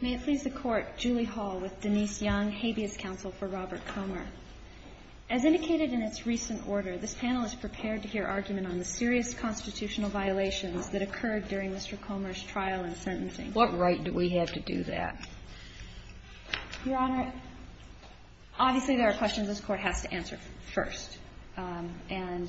May it please the Court, Julie Hall with Denise Young, habeas counsel for Robert Comer. As indicated in its recent order, this panel is prepared to hear argument on the serious constitutional violations that occurred during Mr. Comer's trial and sentencing. What right do we have to do that? Your Honor, obviously there are questions this Court has to answer first. And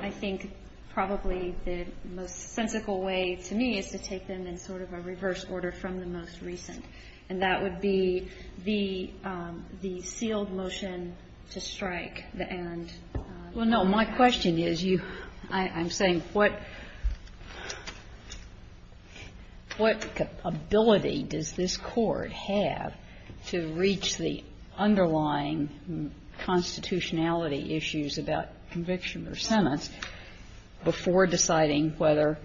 I think probably the most sensical way to me is to take them in sort of a reverse order from the most recent. And that would be the sealed motion to strike the end. Well, no, my question is you, I'm saying what, what ability does this Court have to reach the underlying constitutionality issues about conviction or sentence before deciding whether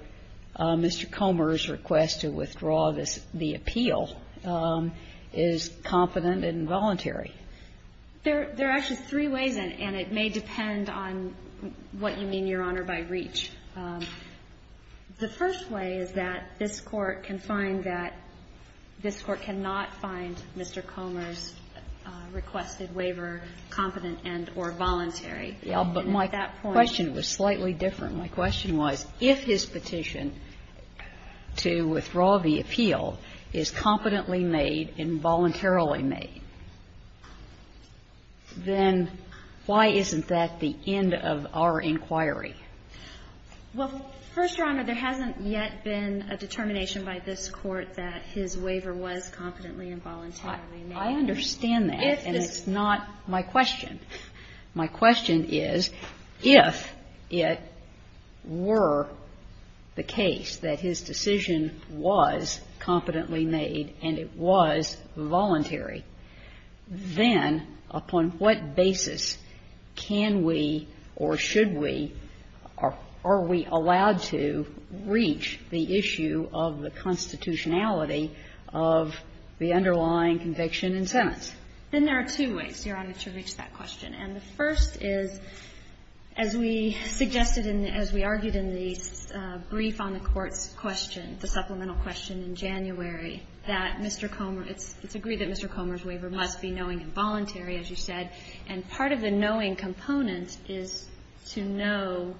Mr. Comer's request to withdraw this, the appeal is confident and voluntary? There are actually three ways, and it may depend on what you mean, Your Honor, by reach. The first way is that this Court can find that this Court cannot find Mr. Comer's requested waiver competent and or voluntary. And at that point you can't. But my question was slightly different. My question was if his petition to withdraw the appeal is competently made and voluntarily made, then why isn't that the end of our inquiry? Well, First Your Honor, there hasn't yet been a determination by this Court that his waiver was competently and voluntarily made. I understand that, and it's not my question. My question is, if it were the case that his decision was competently made and it was voluntary, then upon what basis can we or should we, are we allowed to reach the issue of the constitutionality of the underlying conviction and sentence? And there are two ways, Your Honor, to reach that question. And the first is, as we suggested in the – as we argued in the brief on the Court's question, the supplemental question in January, that Mr. Comer – it's agreed that Mr. Comer's waiver must be knowing and voluntary, as you said, and part of the knowing component is to know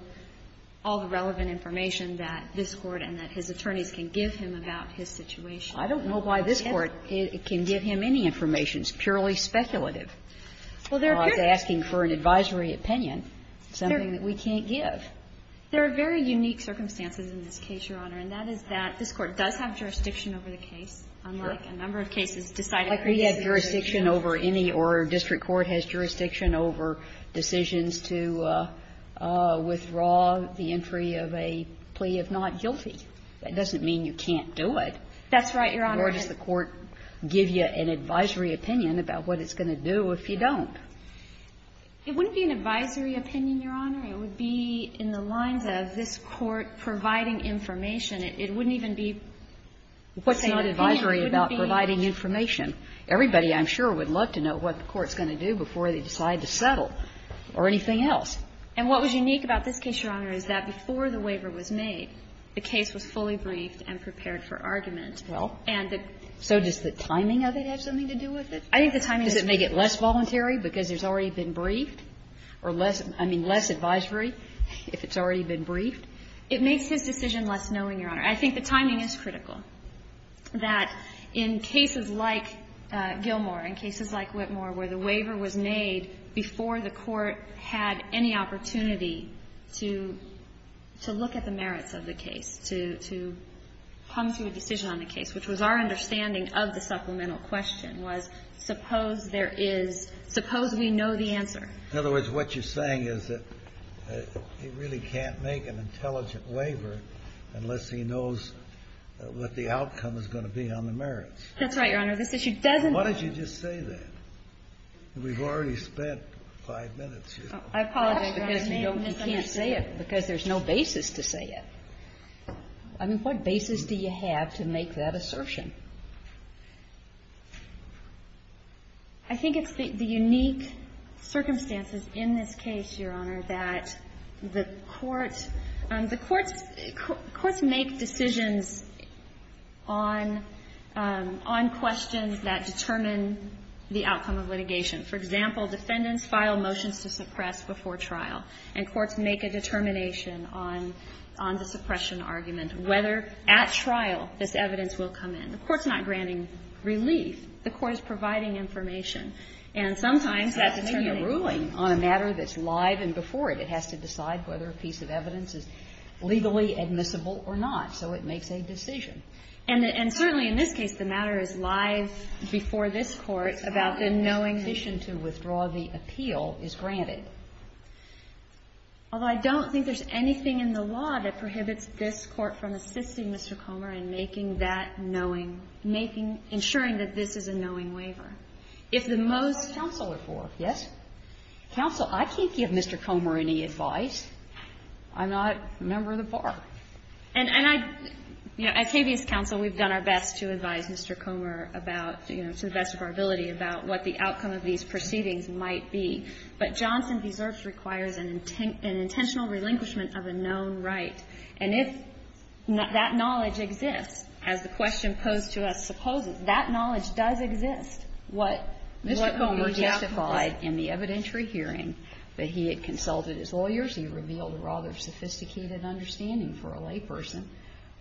all the relevant information that this Court and that his attorneys can give him about his situation. I don't know why this Court can give him any information. It's purely speculative. Well, there appears to be an advisory opinion, something that we can't give. There are very unique circumstances in this case, Your Honor. And that is that this Court does have jurisdiction over the case, unlike a number of cases decided previously. Like we have jurisdiction over any or district court has jurisdiction over decisions to withdraw the entry of a plea of not guilty. That doesn't mean you can't do it. That's right, Your Honor. Nor does the Court give you an advisory opinion about what it's going to do if you don't. It wouldn't be an advisory opinion, Your Honor. It would be in the lines of this Court providing information. It wouldn't even be saying that the opinion wouldn't be. What's not advisory about providing information? Everybody, I'm sure, would love to know what the Court's going to do before they decide to settle or anything else. And what was unique about this case, Your Honor, is that before the waiver was made, the case was fully briefed and prepared for argument. Well, so does the timing of it have something to do with it? I think the timing is. Does it make it less voluntary because it's already been briefed? Or less, I mean, less advisory if it's already been briefed? It makes his decision less knowing, Your Honor. I think the timing is critical, that in cases like Gilmore, in cases like Whitmore, where the waiver was made before the Court had any opportunity to look at the merits of the case, to come to a decision on the case, which was our understanding of the supplemental question, was suppose there is – suppose we know the answer. In other words, what you're saying is that he really can't make an intelligent waiver unless he knows what the outcome is going to be on the merits. That's right, Your Honor. This issue doesn't – Why don't you just say that? We've already spent five minutes here. I apologize, Your Honor. He can't say it because there's no basis to say it. I mean, what basis do you have to make that assertion? I think it's the unique circumstances in this case, Your Honor, that the Court – the Courts make decisions on questions that determine the outcome of litigation. For example, defendants file motions to suppress before trial, and Courts make a determination on the suppression argument, whether, at trial, this evidence will come in. The Court's not granting relief. The Court is providing information. And sometimes that's determining – It's not determining a ruling on a matter that's live and before it. It has to decide whether a piece of evidence is legally admissible or not. So it makes a decision. And certainly in this case, the matter is live before this Court about the knowing that – The decision to withdraw the appeal is granted. Although I don't think there's anything in the law that prohibits this Court from insisting, Mr. Comer, in making that knowing, making – ensuring that this is a knowing waiver. If the most – Counsel are for, yes? Counsel, I can't give Mr. Comer any advice. I'm not a member of the bar. And I – you know, at KBS Counsel, we've done our best to advise Mr. Comer about – you know, to the best of our ability about what the outcome of these proceedings might be. But Johnson v. Zirch requires an intentional relinquishment of a known right. And if that knowledge exists, as the question posed to us supposes, that knowledge does exist. What Mr. Comer testified in the evidentiary hearing that he had consulted his lawyers, he revealed a rather sophisticated understanding for a layperson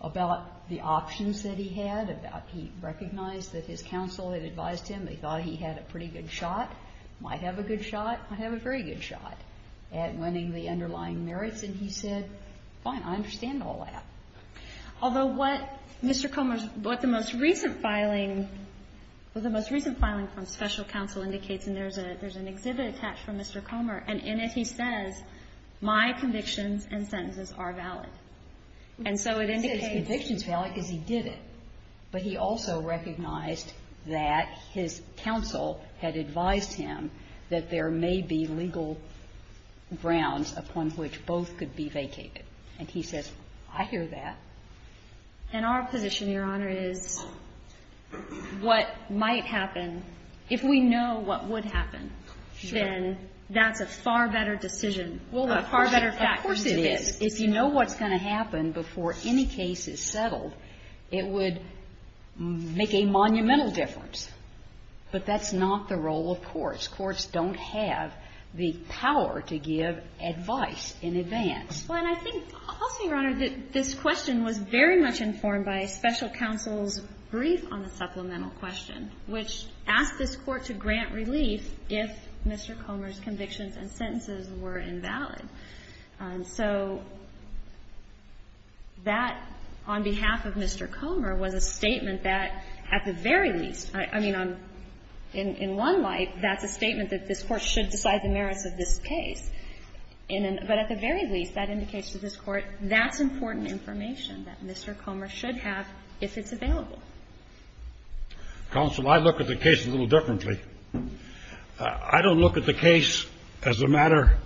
about the options that he had, about he recognized that his counsel had advised him, they thought he had a pretty good shot, might have a good shot, might have a very good shot at winning the underlying merits, and he said, fine, I understand all that. Although what Mr. Comer's – what the most recent filing – what the most recent filing from special counsel indicates, and there's an exhibit attached from Mr. Comer, and in it he says, my convictions and sentences are valid. And so it indicates – He said his convictions are valid because he did it. But he also recognized that his counsel had advised him that there may be legal grounds upon which both could be vacated. And he says, I hear that. And our position, Your Honor, is what might happen, if we know what would happen, then that's a far better decision, a far better fact. Of course it is. If you know what's going to happen before any case is settled, it would make a monumental difference. But that's not the role of courts. Courts don't have the power to give advice in advance. Well, and I think also, Your Honor, that this question was very much informed by special counsel's brief on the supplemental question, which asked this Court to grant relief if Mr. Comer's convictions and sentences were invalid. So that, on behalf of Mr. Comer, was a statement that, at the very least – I mean, in one light, that's a statement that this Court should decide the merits of this case. But at the very least, that indicates to this Court that's important information that Mr. Comer should have if it's available. Counsel, I look at the case a little differently. I don't look at the case as a matter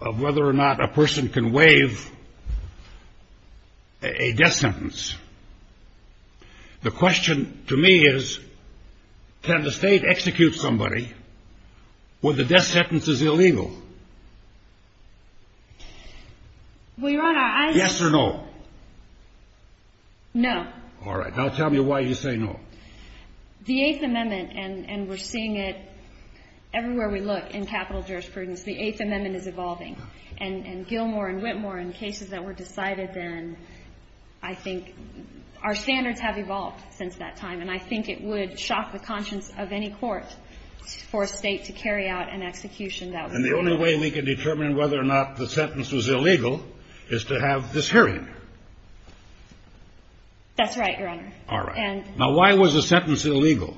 of whether or not a person can waive a death sentence. The question to me is, can the state execute somebody when the death sentence is illegal? Well, Your Honor, I – Yes or no? No. All right. Now tell me why you say no. The Eighth Amendment, and we're seeing it everywhere we look in capital jurisprudence, the Eighth Amendment is evolving. And Gilmore and Whitmore, in cases that were decided then, I think – our standards have evolved since that time. And I think it would shock the conscience of any court for a state to carry out an execution that was illegal. And the only way we can determine whether or not the sentence was illegal is to have this hearing. That's right, Your Honor. All right. And – Now, why was the sentence illegal?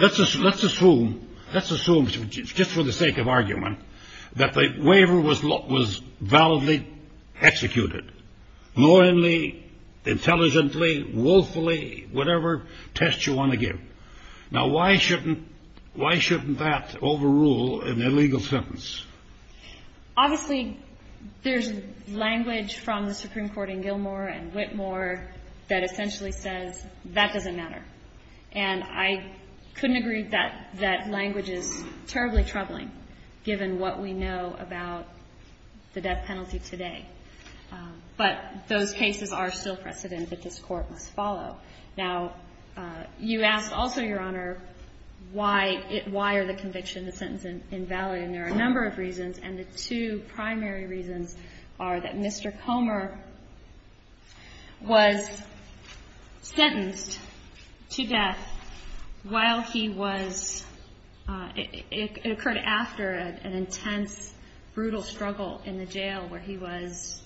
Let's assume – let's assume, just for the sake of argument, that the waiver was – was validly executed, loyally, intelligently, willfully, whatever test you want to give. Now, why shouldn't – why shouldn't that overrule an illegal sentence? Obviously, there's language from the Supreme Court in Gilmore and Whitmore that essentially says that doesn't matter. And I couldn't agree that that language is terribly troubling, given what we know about the death penalty today. But those cases are still precedent that this Court must follow. Now, you asked also, Your Honor, why – why are the convictions and the sentences And there are a number of reasons. And the two primary reasons are that Mr. Comer was sentenced to death while he was – it occurred after an intense, brutal struggle in the jail where he was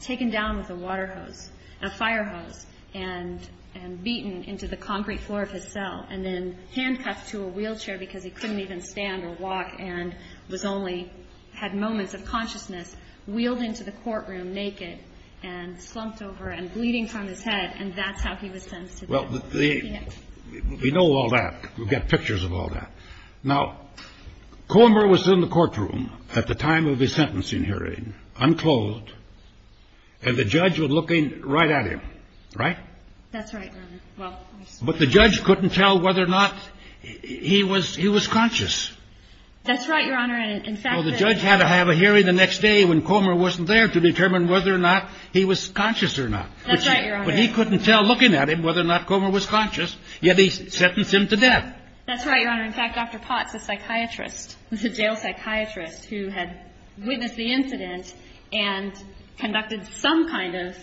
taken down with a water hose – a fire hose and beaten into the concrete floor of his cell and then handcuffed to a wheelchair because he couldn't even stand or walk and was only – had moments of consciousness, wheeled into the courtroom naked and slumped over and bleeding from his head, and that's how he was sentenced to death. Well, the – we know all that. We've got pictures of all that. Now, Comer was in the courtroom at the time of his sentencing hearing, unclothed, and the judge was looking right at him, right? That's right, Your Honor. But the judge couldn't tell whether or not he was – he was conscious. That's right, Your Honor, and in fact – Well, the judge had to have a hearing the next day when Comer wasn't there to determine whether or not he was conscious or not. That's right, Your Honor. But he couldn't tell, looking at him, whether or not Comer was conscious, yet he sentenced him to death. That's right, Your Honor. In fact, Dr. Potts, the psychiatrist, the jail psychiatrist who had witnessed the incident and conducted some kind of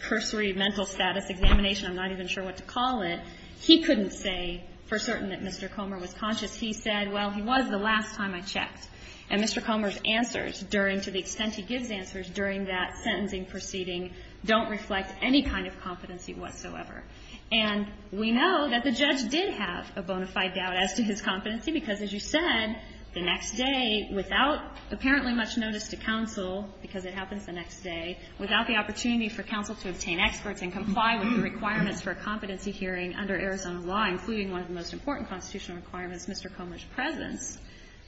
cursory mental status examination – I'm not even sure what to call it – he couldn't say for certain that Mr. Comer was conscious. He said, well, he was the last time I checked. And Mr. Comer's answers during – to the extent he gives answers during that sentencing proceeding don't reflect any kind of competency whatsoever. And we know that the judge did have a bona fide doubt as to his competency, because as you said, the next day, without apparently much notice to counsel, because it happens the next day, without the opportunity for counsel to obtain experts and comply with the requirements for a competency hearing under Arizona law, including one of the most important constitutional requirements, Mr. Comer's presence,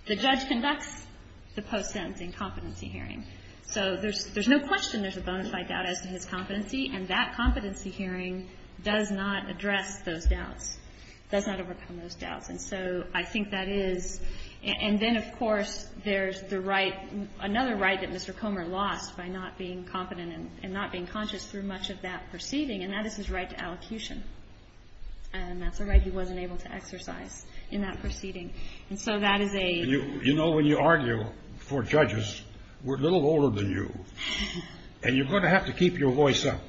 the judge conducts the post-sentencing competency hearing. So there's no question there's a bona fide doubt as to his competency, and that competency hearing does not address those doubts, does not overcome those doubts. And so I think that is – and then, of course, there's the right – another right that Mr. Comer lost by not being confident and not being conscious through much of that proceeding, and that is his right to allocution. And that's a right he wasn't able to exercise in that proceeding. And so that is a – You know, when you argue for judges, we're a little older than you, and you're going to have to keep your voice up.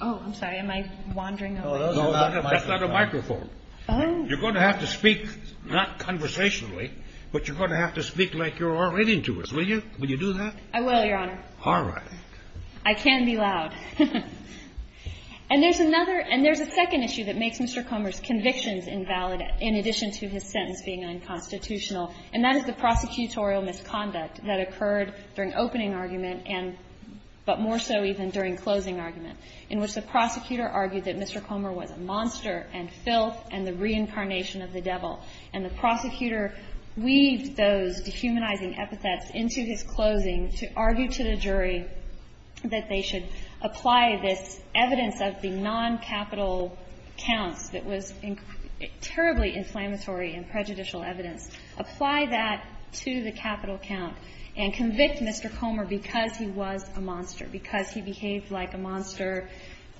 Oh, I'm sorry. Am I wandering over here? No, that's not a microphone. Oh. You're going to have to speak not conversationally, but you're going to have to speak like you're already into it. Will you? Will you do that? I will, Your Honor. All right. I can't be loud. And there's another – and there's a second issue that makes Mr. Comer's convictions invalid in addition to his sentence being unconstitutional, and that is the prosecutorial misconduct that occurred during opening argument and – but more so even during closing argument, in which the prosecutor argued that Mr. Comer was a monster and filth and the reincarnation of the devil. And the prosecutor weaved those dehumanizing epithets into his closing to argue to the this evidence of the non-capital counts that was terribly inflammatory and prejudicial evidence. Apply that to the capital count and convict Mr. Comer because he was a monster, because he behaved like a monster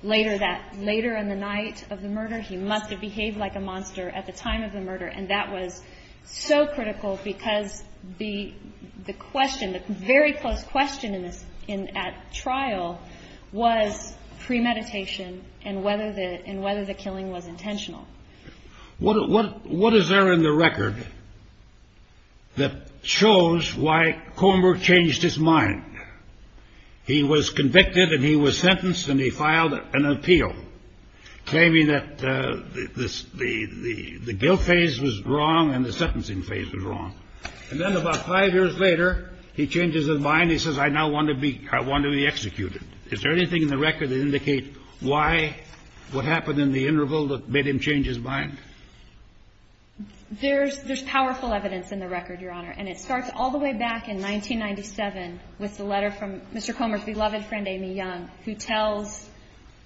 later that – later in the night of the murder. He must have behaved like a monster at the time of the murder, and that was so critical because the question – the very close question in this – at trial was premeditation and whether the – and whether the killing was intentional. What is there in the record that shows why Comer changed his mind? He was convicted and he was sentenced and he filed an appeal claiming that the guilt phase was wrong and the sentencing phase was wrong. And then about five years later, he changes his mind. He says, I now want to be – I want to be executed. Is there anything in the record that indicates why, what happened in the interval that made him change his mind? There's – there's powerful evidence in the record, Your Honor, and it starts all the way back in 1997 with the letter from Mr. Comer's beloved friend, Amy Young, who tells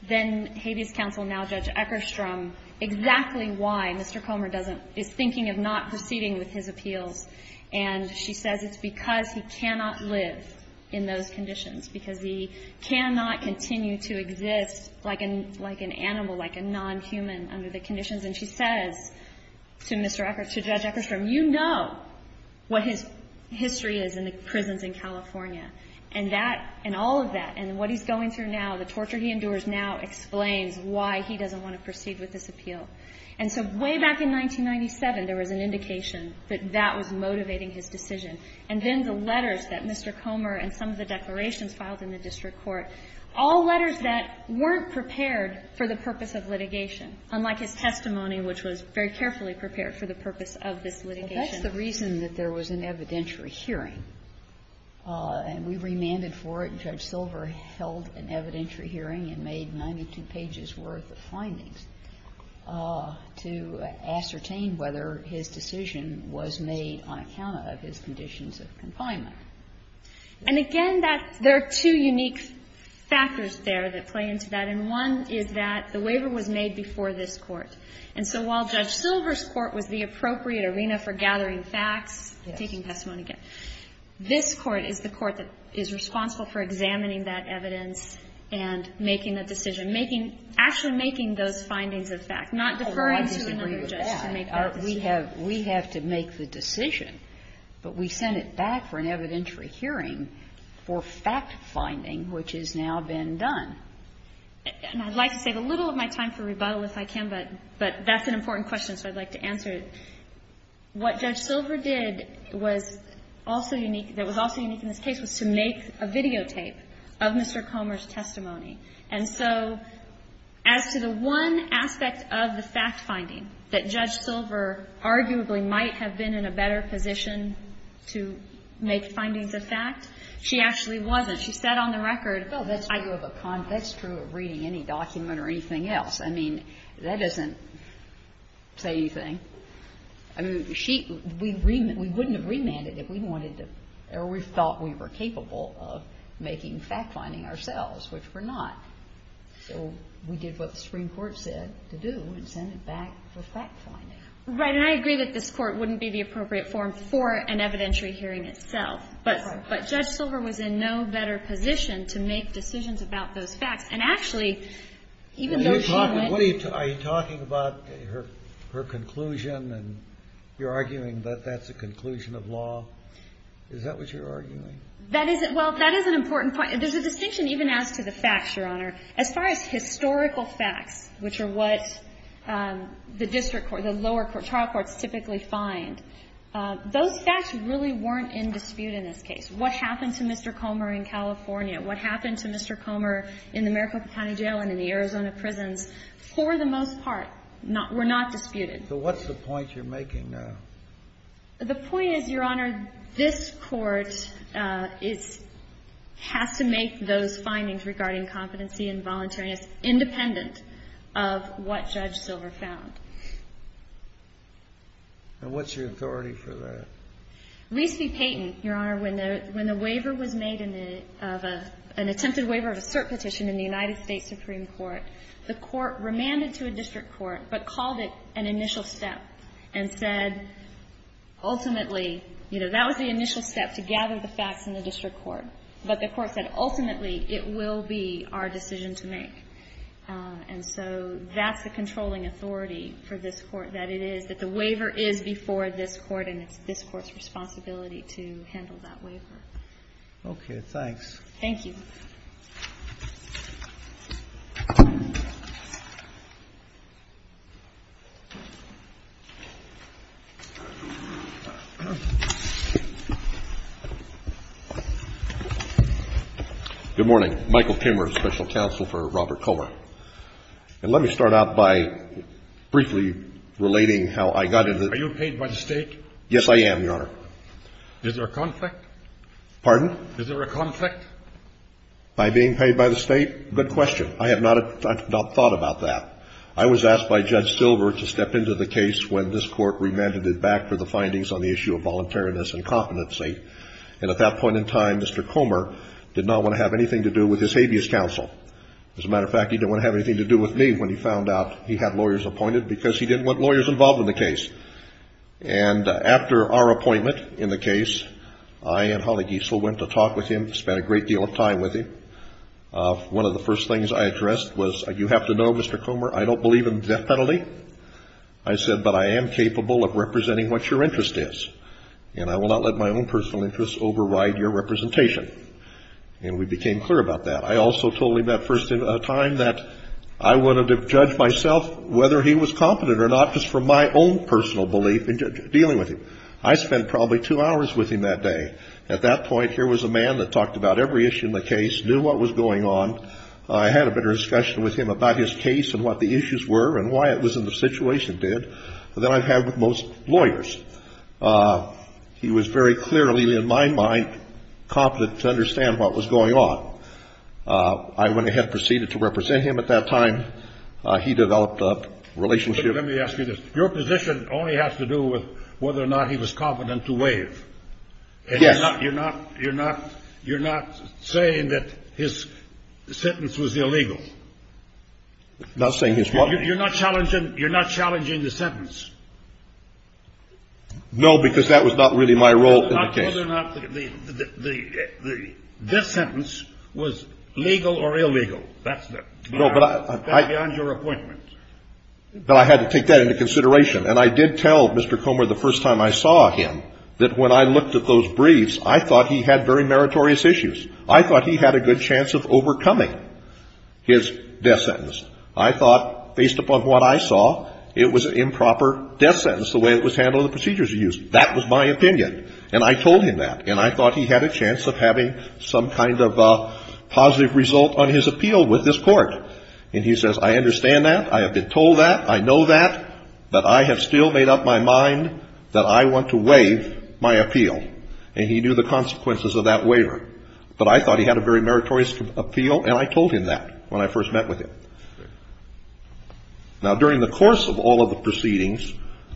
then-Haiti's counsel, now Judge Eckerstrom, exactly why Mr. Comer doesn't – is thinking of not proceeding with his appeals. And she says it's because he cannot live in those conditions, because he cannot continue to exist like an – like an animal, like a non-human under the conditions. And she says to Mr. Eckerstrom – to Judge Eckerstrom, you know what his history is in the prisons in California. And that – and all of that, and what he's going through now, the torture he endures now explains why he doesn't want to proceed with this appeal. And so way back in 1997, there was an indication that that was motivating his decision. And then the letters that Mr. Comer and some of the declarations filed in the district court, all letters that weren't prepared for the purpose of litigation, unlike his testimony, which was very carefully prepared for the purpose of this litigation. Sotomayor, that's the reason that there was an evidentiary hearing. And we remanded for it, and Judge Silver held an evidentiary hearing and made 92 pages worth of findings to ascertain whether his decision was made on account of his conditions of confinement. And again, that's – there are two unique factors there that play into that. And so while Judge Silver's court was the appropriate arena for gathering facts, taking testimony again, this Court is the court that is responsible for examining that evidence and making a decision, making – actually making those findings of fact, not deferring to another judge to make that decision. We have to make the decision, but we sent it back for an evidentiary hearing for fact finding, which has now been done. And I'd like to save a little of my time for rebuttal if I can, but that's an important question, so I'd like to answer it. What Judge Silver did was also unique – that was also unique in this case was to make a videotape of Mr. Comer's testimony. And so as to the one aspect of the fact finding that Judge Silver arguably might have been in a better position to make findings of fact, she actually wasn't. She said on the record, oh, that's true of a confinement. That's true of reading any document or anything else. I mean, that doesn't say anything. I mean, she – we wouldn't have remanded if we wanted to – or we thought we were capable of making fact finding ourselves, which we're not. So we did what the Supreme Court said to do and sent it back for fact finding. Right. And I agree that this Court wouldn't be the appropriate forum for an evidentiary hearing itself. But Judge Silver was in no better position to make decisions about those facts. And actually, even though she went – Are you talking about her conclusion and you're arguing that that's a conclusion of law? Is that what you're arguing? That is – well, that is an important point. There's a distinction even as to the facts, Your Honor. As far as historical facts, which are what the district court, the lower trial courts typically find, those facts really weren't in dispute in this case. What happened to Mr. Comer in California? What happened to Mr. Comer in the Maricopa County Jail and in the Arizona prisons? For the most part, not – were not disputed. So what's the point you're making? The point is, Your Honor, this Court is – has to make those findings regarding competency and voluntariness independent of what Judge Silver found. And what's your authority for that? Rees v. Payton, Your Honor, when the waiver was made in the – of a – an attempted waiver of a cert petition in the United States Supreme Court, the Court remanded to a district court but called it an initial step and said, ultimately – you know, that was the initial step, to gather the facts in the district court. But the Court said, ultimately, it will be our decision to make. And so that's the controlling authority for this Court, that it is – that the waiver is before this Court and it's this Court's responsibility to handle that waiver. Okay. Thanks. Thank you. Good morning. Michael Kimmerer, Special Counsel for Robert Koehler. And let me start out by briefly relating how I got into the – Are you paid by the State? Yes, I am, Your Honor. Pardon? Is there a conflict? By being paid by the State? Good question. I have not – I have not thought about that. I was asked by Judge Silver to step into the case when this Court remanded it back for the findings on the issue of voluntariness and competency, and at that point in time, Mr. Comer did not want to have anything to do with his habeas counsel. As a matter of fact, he didn't want to have anything to do with me when he found out he had lawyers appointed because he didn't want lawyers involved in the case. And after our appointment in the case, I and Holly Giesel went to talk with him, spent a great deal of time with him. One of the first things I addressed was, you have to know, Mr. Comer, I don't believe in death penalty. I said, but I am capable of representing what your interest is, and I will not let my own personal interests override your representation. And we became clear about that. I also told him that first time that I wanted to judge myself whether he was competent or not just from my own personal belief in dealing with him. I spent probably two hours with him that day. At that point, here was a man that talked about every issue in the case, knew what was going on. I had a better discussion with him about his case and what the issues were and why it was in the situation did than I've had with most lawyers. He was very clearly, in my mind, competent to understand what was going on. I went ahead and proceeded to represent him. At that time, he developed a relationship. Let me ask you this. Your position only has to do with whether or not he was competent to waive. Yes. You're not saying that his sentence was illegal? Not saying his what? You're not challenging the sentence? No, because that was not really my role in the case. Whether or not this sentence was legal or illegal. That's beyond your appointment. But I had to take that into consideration. And I did tell Mr. Comer the first time I saw him that when I looked at those briefs, I thought he had very meritorious issues. I thought he had a good chance of overcoming his death sentence. I thought, based upon what I saw, it was an improper death sentence the way it was handled in the procedures he used. That was my opinion. And I told him that. And I thought he had a chance of having some kind of positive result on his appeal with this court. And he says, I understand that. I have been told that. I know that. That I have still made up my mind that I want to waive my appeal. And he knew the consequences of that waiver. But I thought he had a very meritorious appeal. And I told him that when I first met with him. Now, during the course of all of the proceedings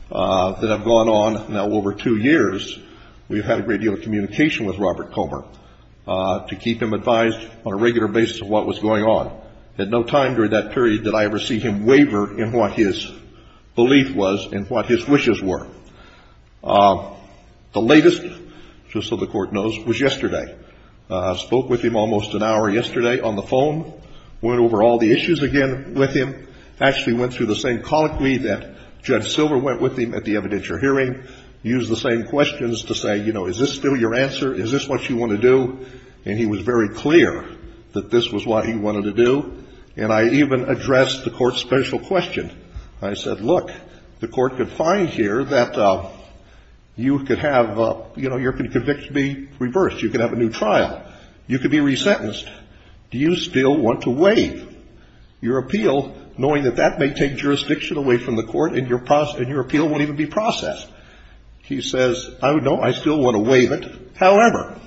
that have gone on now over two years, we've had a great deal of communication with Robert Comer to keep him advised on a regular basis of what was going on. At no time during that period did I ever see him waver in what his belief was and what his wishes were. The latest, just so the Court knows, was yesterday. Spoke with him almost an hour yesterday on the phone. Went over all the issues again with him. Actually went through the same colloquy that Judge Silver went with him at the evidentiary hearing. Used the same questions to say, you know, is this still your answer? Is this what you want to do? And he was very clear that this was what he wanted to do. And I even addressed the Court's special question. I said, look, the Court could find here that you could have, you know, you're going to be convicted to be reversed. You could have a new trial. You could be resentenced. Do you still want to waive your appeal, knowing that that may take jurisdiction away from the Court and your appeal won't even be processed? He says, no, I still want to waive it. However,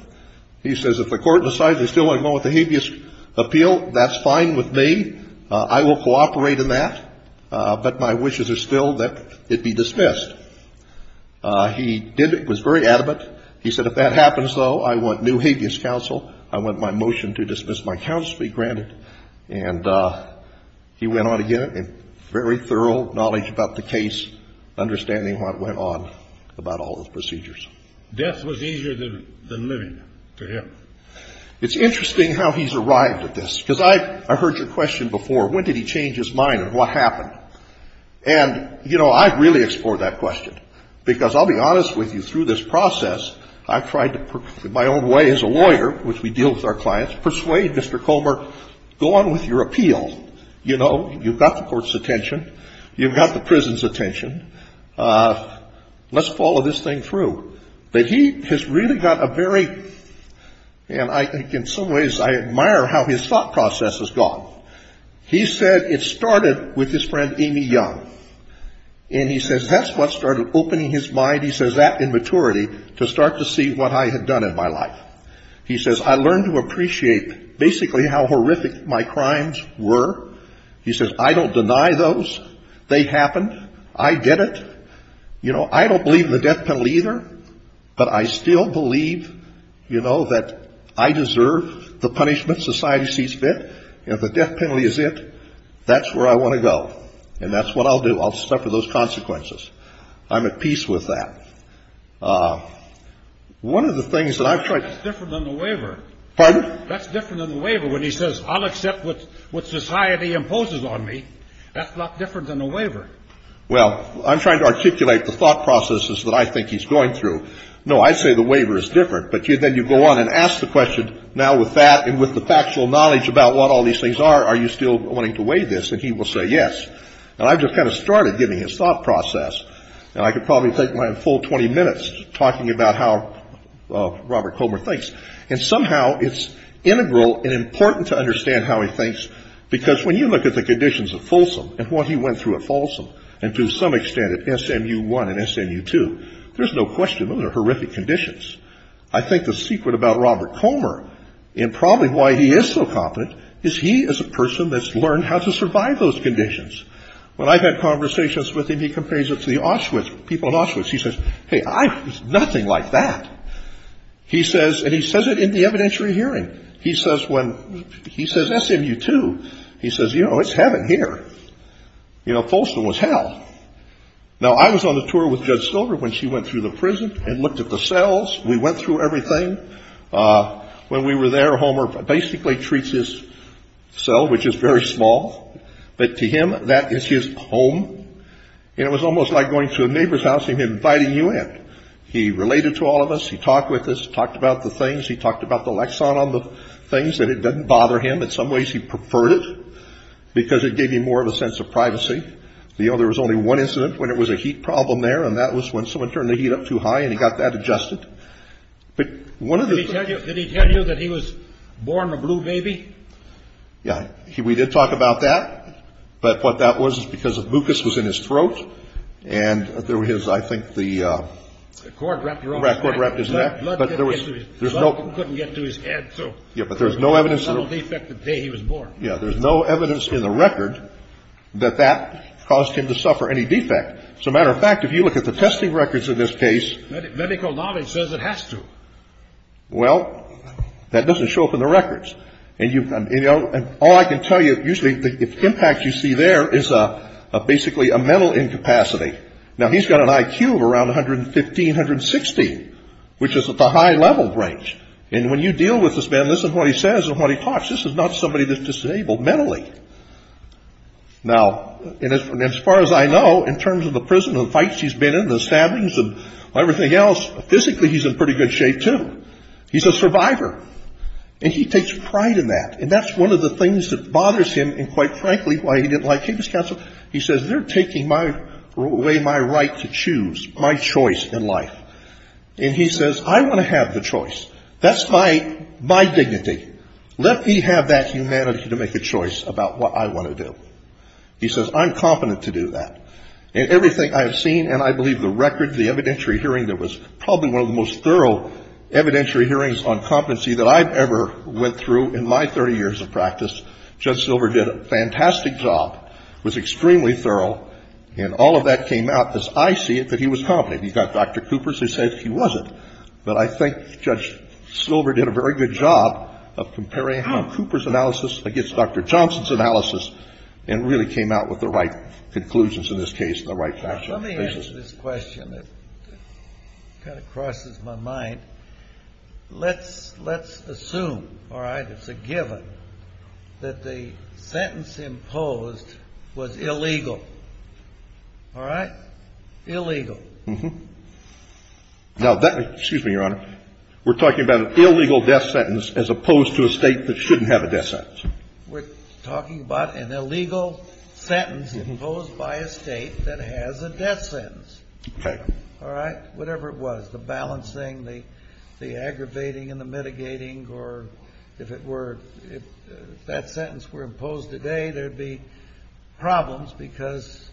he says, if the Court decides they still want to go with the habeas appeal, that's fine with me. I will cooperate in that. But my wishes are still that it be dismissed. He did it, was very adamant. He said, if that happens, though, I want new habeas counsel. I want my motion to dismiss my counsel to be granted. And he went on again in very thorough knowledge about the case, understanding what went on about all those procedures. Death was easier than living to him. It's interesting how he's arrived at this, because I heard your question before. When did he change his mind and what happened? And, you know, I've really explored that question, because I'll be honest with you, through this process, I've tried to, in my own way as a lawyer, which we deal with our clients, persuade Mr. Comer, go on with your appeal. You know, you've got the Court's attention. You've got the prison's attention. Let's follow this thing through. That he has really got a very, and I think in some ways I admire how his thought process has gone. He said it started with his friend Amy Young. And he says that's what started opening his mind, he says that in maturity, to start to see what I had done in my life. He says I learned to appreciate basically how horrific my crimes were. He says I don't deny those. They happened. I did it. You know, I don't believe in the death penalty either. But I still believe, you know, that I deserve the punishment society sees fit. If the death penalty is it, that's where I want to go. And that's what I'll do. I'll suffer those consequences. I'm at peace with that. One of the things that I've tried to. That's different than the waiver. Pardon? That's different than the waiver when he says I'll accept what society imposes on me. That's a lot different than the waiver. Well, I'm trying to articulate the thought processes that I think he's going through. No, I say the waiver is different. But then you go on and ask the question, now with that and with the factual knowledge about what all these things are, are you still wanting to weigh this? And he will say yes. And I've just kind of started giving his thought process. And I could probably take my full 20 minutes talking about how Robert Comer thinks. And somehow it's integral and important to understand how he thinks, because when you look at the conditions of Folsom and what he went through at Folsom, and to some extent at SMU1 and SMU2, there's no question those are horrific conditions. I think the secret about Robert Comer and probably why he is so competent is he is a person that's learned how to survive those conditions. When I've had conversations with him, he compares it to the Auschwitz, people in Auschwitz. He says, hey, I was nothing like that. He says, and he says it in the evidentiary hearing. He says when he says SMU2, he says, you know, it's heaven here. You know, Folsom was hell. Now, I was on a tour with Judge Silver when she went through the prison and looked at the cells. We went through everything. When we were there, Homer basically treats his cell, which is very small, but to him that is his home. And it was almost like going to a neighbor's house and him inviting you in. He related to all of us. He talked with us. He talked about the things. He talked about the lexan on the things, that it doesn't bother him. In some ways, he preferred it because it gave him more of a sense of privacy. You know, there was only one incident when it was a heat problem there, and that was when someone turned the heat up too high and he got that adjusted. But one of the things... Did he tell you that he was born a blue baby? Yeah. We did talk about that, but what that was is because the mucus was in his throat, and there was, I think, the... The cord wrapped around his neck. The cord wrapped his neck, but there was... Blood couldn't get to his head, so... Yeah, but there was no evidence... There was no medical defect the day he was born. Yeah. There's no evidence in the record that that caused him to suffer any defect. As a matter of fact, if you look at the testing records in this case... Medical knowledge says it has to. Well, that doesn't show up in the records. And all I can tell you, usually the impact you see there is basically a mental incapacity. Now, he's got an IQ of around 115, 160, which is at the high level range. And when you deal with this man, listen to what he says and what he talks. This is not somebody that's disabled mentally. Now, as far as I know, in terms of the prison and the fights he's been in and the stabbings and everything else, physically he's in pretty good shape too. He's a survivor. And he takes pride in that. And that's one of the things that bothers him, and quite frankly, why he didn't like Capestown. He says, they're taking away my right to choose, my choice in life. And he says, I want to have the choice. That's my dignity. Let me have that humanity to make a choice about what I want to do. He says, I'm competent to do that. In everything I have seen, and I believe the record, the evidentiary hearing, there was probably one of the most thorough evidentiary hearings on competency that I've ever went through in my 30 years of practice. Judge Silver did a fantastic job, was extremely thorough. And all of that came out, as I see it, that he was competent. You've got Dr. Coopers who said he wasn't. But I think Judge Silver did a very good job of comparing Cooper's analysis against Dr. Johnson's analysis and really came out with the right conclusions in this case and the right factual basis. Let me answer this question. It kind of crosses my mind. Let's assume, all right, it's a given, that the sentence imposed was illegal. All right? Illegal. Mm-hmm. Now, excuse me, Your Honor. We're talking about an illegal death sentence as opposed to a state that shouldn't have a death sentence. We're talking about an illegal sentence imposed by a state that has a death sentence. Okay. All right? Whatever it was, the balancing, the aggravating and the mitigating, or if that sentence were imposed today, there would be problems because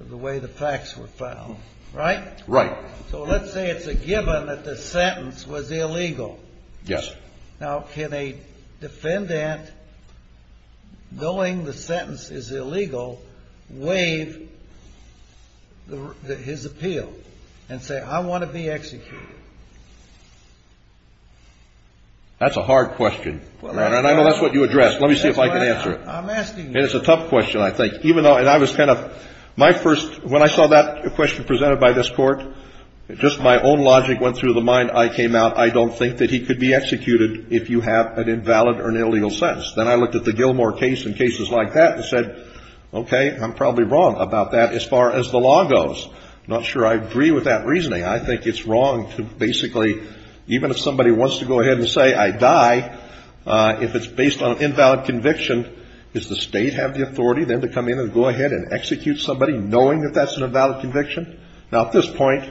of the way the facts were found. Right? Right. So let's say it's a given that the sentence was illegal. Yes. Now, can a defendant, knowing the sentence is illegal, waive his appeal and say, I want to be executed? That's a hard question. And I know that's what you addressed. Let me see if I can answer it. I'm asking you. And it's a tough question, I think. Even though, and I was kind of, my first, when I saw that question presented by this Court, just my own logic went through the mind. I came out. I don't think that he could be executed if you have an invalid or an illegal sentence. Then I looked at the Gilmore case and cases like that and said, okay, I'm probably wrong about that as far as the law goes. I'm not sure I agree with that reasoning. I think it's wrong to basically, even if somebody wants to go ahead and say, I die, if it's based on an invalid conviction, does the state have the authority then to come in and go ahead and execute somebody, knowing that that's an invalid conviction? Now, at this point,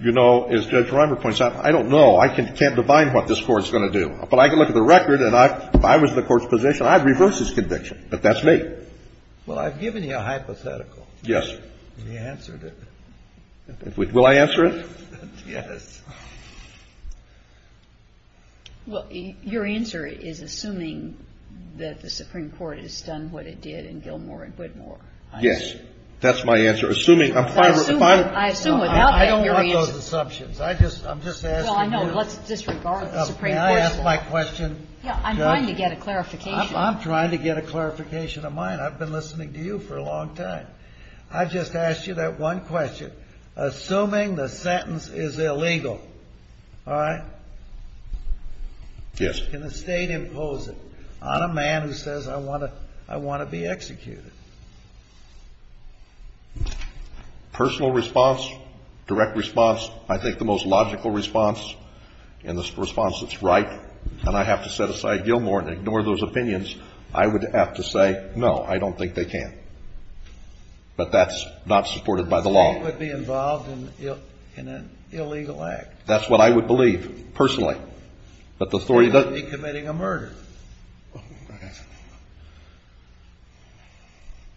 you know, as Judge Reimer points out, I don't know. I can't divine what this Court's going to do. But I can look at the record and if I was in the Court's position, I'd reverse this conviction, but that's me. Well, I've given you a hypothetical. Yes. And you answered it. Will I answer it? Yes. Well, your answer is assuming that the Supreme Court has done what it did in Gilmore and Whitmore. Yes. That's my answer. Assuming, I'm fine with it. I don't want those assumptions. I just, I'm just asking you. Well, I know. Let's disregard the Supreme Court's laws. May I ask my question? Yeah. I'm trying to get a clarification. I'm trying to get a clarification of mine. I've been listening to you for a long time. I just asked you that one question. Assuming the sentence is illegal, all right? Yes. Can the State impose it on a man who says, I want to be executed? Personal response, direct response, I think the most logical response and the response that's right, and I have to set aside Gilmore and ignore those opinions, I would have to say, no, I don't think they can. But that's not supported by the law. The State would be involved in an illegal act. That's what I would believe, personally. The State would be committing a murder. I'm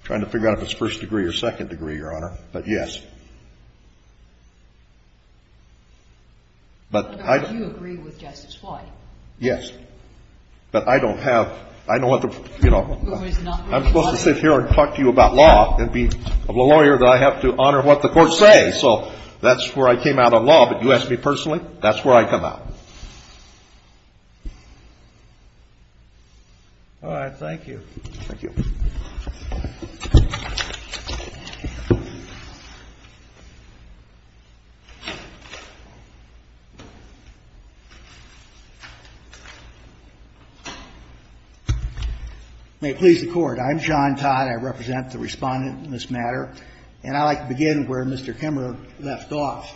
trying to figure out if it's first degree or second degree, Your Honor, but yes. But I don't have, I don't want to, you know, I'm supposed to sit here and talk to you about law and be a lawyer that I have to honor what the courts say. So that's where I came out on law, but you ask me personally, that's where I come out. All right. Thank you. Thank you. May it please the Court. I'm John Todd. I represent the Respondent in this matter. And I'd like to begin where Mr. Kemmerer left off.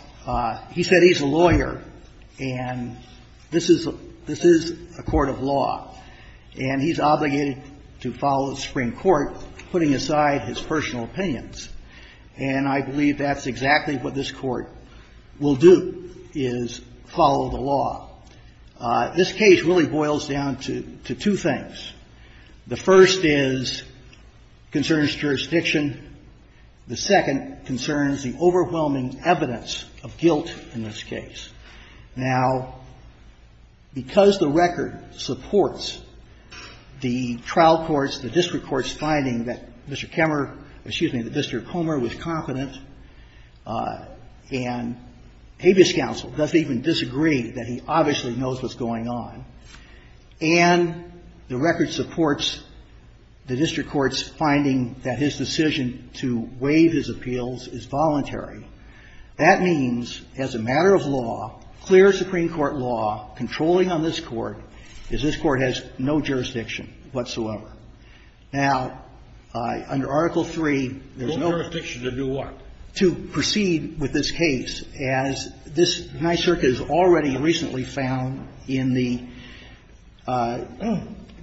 He said he's a lawyer. And this is a court of law. And he's obligated to follow the Supreme Court, putting aside his personal opinions. And I believe that's exactly what this Court will do, is follow the law. This case really boils down to two things. The first is, concerns jurisdiction. The second concerns the overwhelming evidence of guilt in this case. Now, because the record supports the trial courts, the district courts, finding that Mr. Kemmerer, excuse me, that Mr. Comer was confident, and habeas counsel doesn't even disagree that he obviously knows what's going on, and the record supports the district courts finding that his decision to waive his appeals is voluntary, that means, as a matter of law, clear Supreme Court law, controlling on this Court, is this Court has no jurisdiction whatsoever. Now, under Article III, there's no jurisdiction to do what? To proceed with this case. As this NICIRC has already recently found in the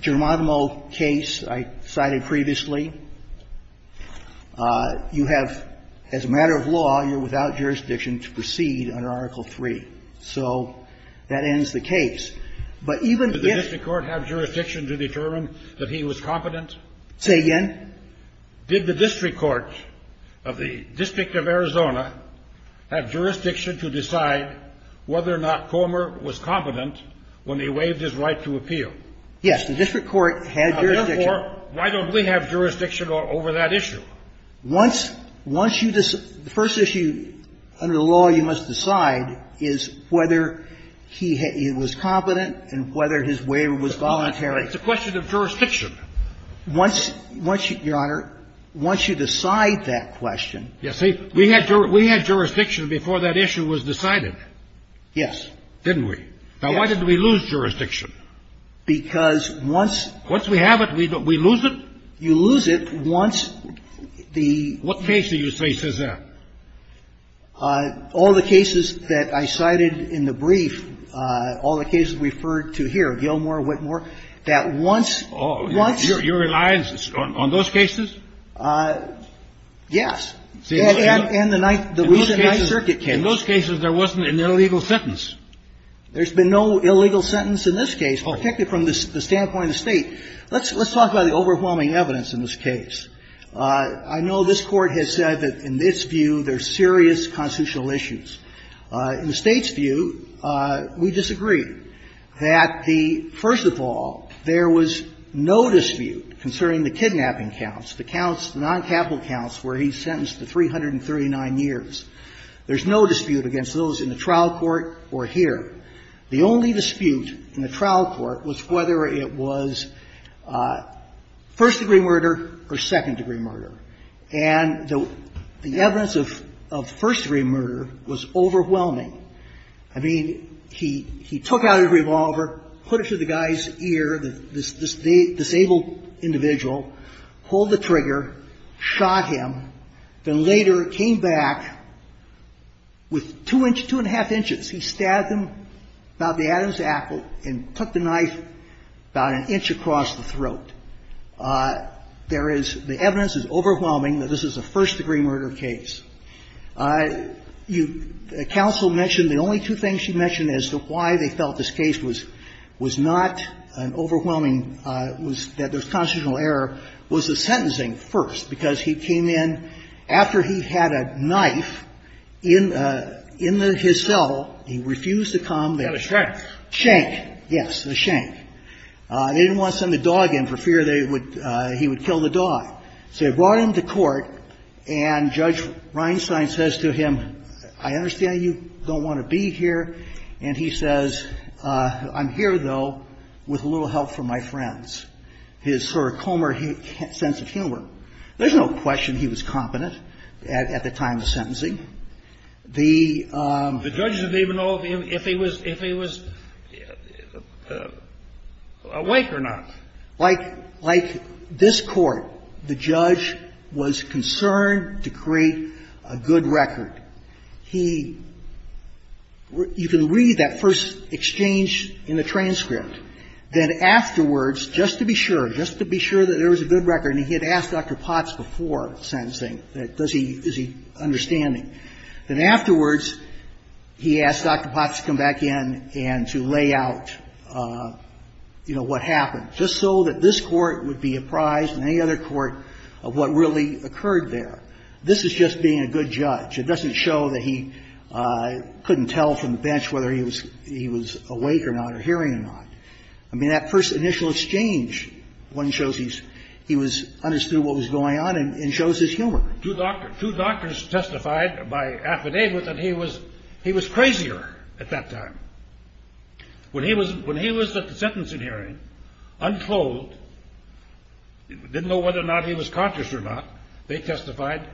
Germanimo case I cited previously, you have, as a matter of law, you're without jurisdiction to proceed under Article III. So that ends the case. But even if the district court had jurisdiction to determine that he was competent? Say again? Did the district court of the District of Arizona have jurisdiction to decide whether or not Comer was competent when they waived his right to appeal? Yes. The district court had jurisdiction. Now, therefore, why don't we have jurisdiction over that issue? Once you decide the first issue under the law you must decide is whether he was competent and whether his waiver was voluntary. It's a question of jurisdiction. Once you, Your Honor, once you decide that question. Yes. See, we had jurisdiction before that issue was decided. Yes. Didn't we? Now, why didn't we lose jurisdiction? Because once. Once we have it, we lose it? You lose it once the... What case do you say says that? All the cases that I cited in the brief, all the cases referred to here, Gilmore, Whitmore, that once... You're reliant on those cases? Yes. And the recent Ninth Circuit case. In those cases there wasn't an illegal sentence. There's been no illegal sentence in this case, particularly from the standpoint of the State. Let's talk about the overwhelming evidence in this case. I know this Court has said that in its view there's serious constitutional issues. In the State's view, we disagree that the... First of all, there was no dispute concerning the kidnapping counts, the counts, the noncapital counts where he's sentenced to 339 years. There's no dispute against those in the trial court or here. The only dispute in the trial court was whether it was first-degree murder or second-degree murder. And the evidence of first-degree murder was overwhelming. I mean, he took out a revolver, put it through the guy's ear, this disabled individual, pulled the trigger, shot him, then later came back with two inch, two and a half inches. He stabbed him about the Adam's apple and took the knife about an inch across the throat. There is... The evidence is overwhelming that this is a first-degree murder case. You... Counsel mentioned the only two things she mentioned as to why they felt this case was not an overwhelming... It was that there was constitutional error was the sentencing first, because he came in after he had a knife in the his cell. He refused to come. They had a shank. Shank. Yes, the shank. They didn't want to send the dog in for fear they would he would kill the dog. So they brought him to court, and Judge Reinstein says to him, I understand you don't want to be here. And he says, I'm here, though, with a little help from my friends. His sort of calmer sense of humor. There's no question he was competent at the time of the sentencing. The... The judges didn't even know if he was awake or not. Like this Court, the judge was concerned to create a good record. He... Just to be sure. Just to be sure that there was a good record. And he had asked Dr. Potts before sentencing, does he, is he understanding. Then afterwards, he asked Dr. Potts to come back in and to lay out, you know, what happened, just so that this Court would be apprised and any other court of what really occurred there. This is just being a good judge. It doesn't show that he couldn't tell from the bench whether he was awake or not or hearing or not. I mean, that first initial exchange, one shows he's, he was, understood what was going on and shows his humor. Two doctors testified by affidavit that he was crazier at that time. When he was at the sentencing hearing, unclothed, didn't know whether or not he was conscious or not, they testified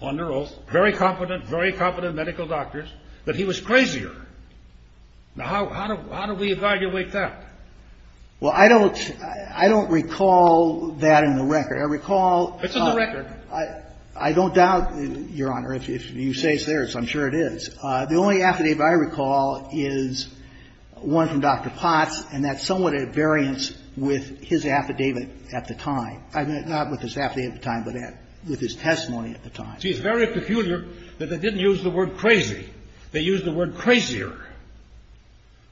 on their oath, very competent, very competent medical doctors, that he was crazier. Now, how do we evaluate that? Well, I don't, I don't recall that in the record. I recall. It's in the record. I don't doubt, Your Honor, if you say it's there, I'm sure it is. The only affidavit I recall is one from Dr. Potts, and that's somewhat at variance with his affidavit at the time. Not with his affidavit at the time, but with his testimony at the time. See, it's very peculiar that they didn't use the word crazy. They used the word crazier,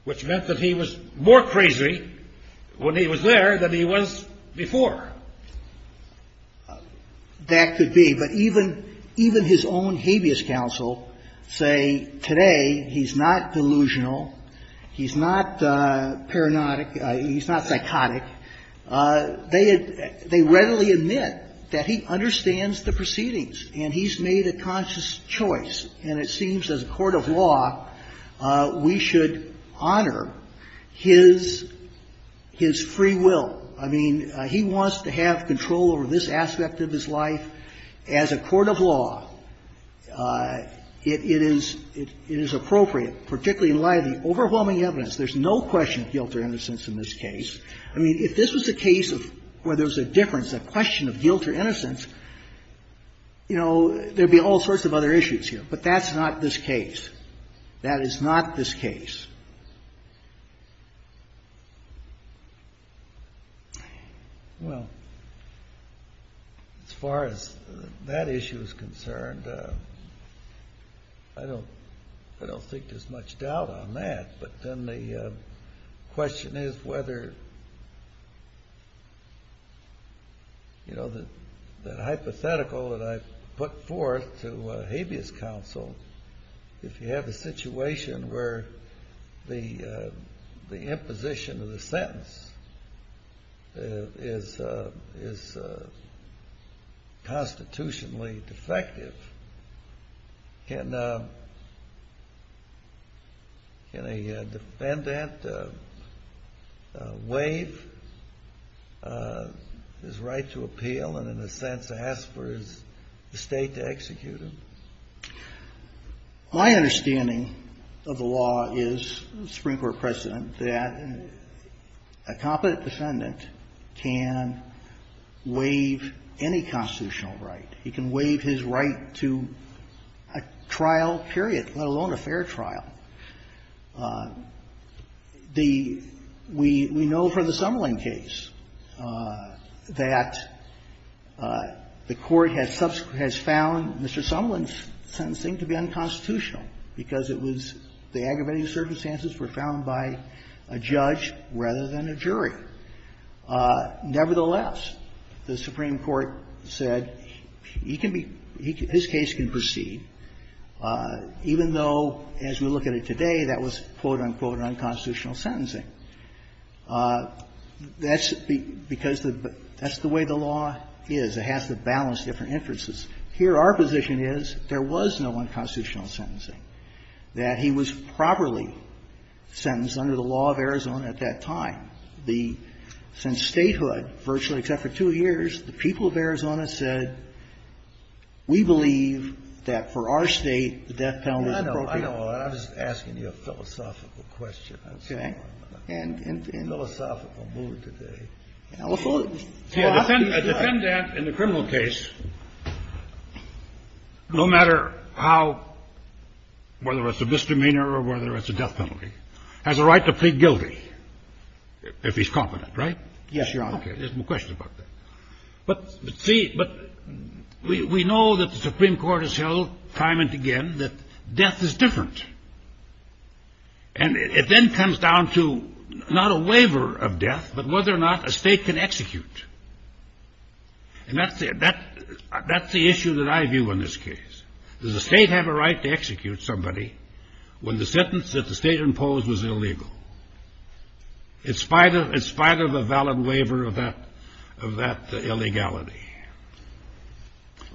which meant that he was more crazy when he was there than he was before. That could be. But even his own habeas counsel say today he's not delusional, he's not paranoid, he's not psychotic. They readily admit that he understands the proceedings and he's made a conscious choice, and it seems as a court of law we should honor his free will. I mean, he wants to have control over this aspect of his life. As a court of law, it is appropriate, particularly in light of the overwhelming evidence. There's no question of guilt or innocence in this case. I mean, if this was a case where there was a difference, a question of guilt or innocence, you know, there would be all sorts of other issues here. But that's not this case. That is not this case. Well, as far as that issue is concerned, I don't think there's much doubt on that. But then the question is whether, you know, the hypothetical that I put forth to habeas counsel, if you have a situation where the imposition of the sentence is constitutionally defective, can a defendant waive his right to appeal and, in a sense, ask for his estate to execute him? My understanding of the law is, Supreme Court precedent, that a competent defendant can waive any constitutional right. He can waive his right to a trial period, let alone a fair trial. We know from the Sumlin case that the Court has found Mr. Sumlin's sentencing to be unconstitutional, because it was the aggravating circumstances were found by a judge rather than a jury. Nevertheless, the Supreme Court said he can be – his case can proceed, even though as we look at it today, that was, quote, unquote, unconstitutional sentencing. That's because the – that's the way the law is. It has to balance different inferences. Here our position is there was no unconstitutional sentencing, that he was properly sentenced under the law of Arizona at that time. The – since statehood, virtually except for two years, the people of Arizona said, we believe that for our State, the death penalty is appropriate. I know. I know. I was asking you a philosophical question. Okay. A philosophical move today. See, a defendant in a criminal case, no matter how – whether it's a misdemeanor or whether it's a death penalty, has a right to plead guilty if he's competent, right? Yes, Your Honor. There's no question about that. But see – but we know that the Supreme Court has held time and again that death is different. And it then comes down to not a waiver of death, but whether or not a state can execute. And that's the – that's the issue that I view in this case. Does the state have a right to execute somebody when the sentence that the state imposed was illegal? In spite of – in spite of a valid waiver of that – of that illegality.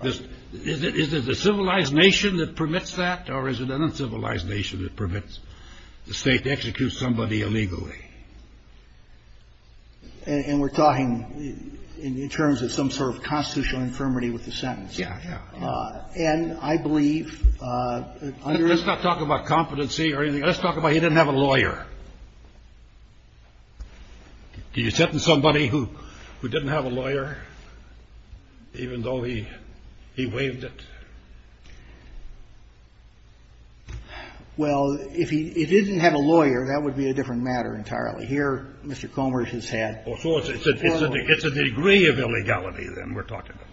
Is it a civilized nation that permits that? Or is it an uncivilized nation that permits the state to execute somebody illegally? And we're talking in terms of some sort of constitutional infirmity with the sentence. Yeah, yeah. And I believe under – Let's not talk about competency or anything. Let's talk about he didn't have a lawyer. Do you sentence somebody who didn't have a lawyer even though he waived it? Well, if he didn't have a lawyer, that would be a different matter entirely. Here, Mr. Comer has had – Well, so it's a degree of illegality then we're talking about.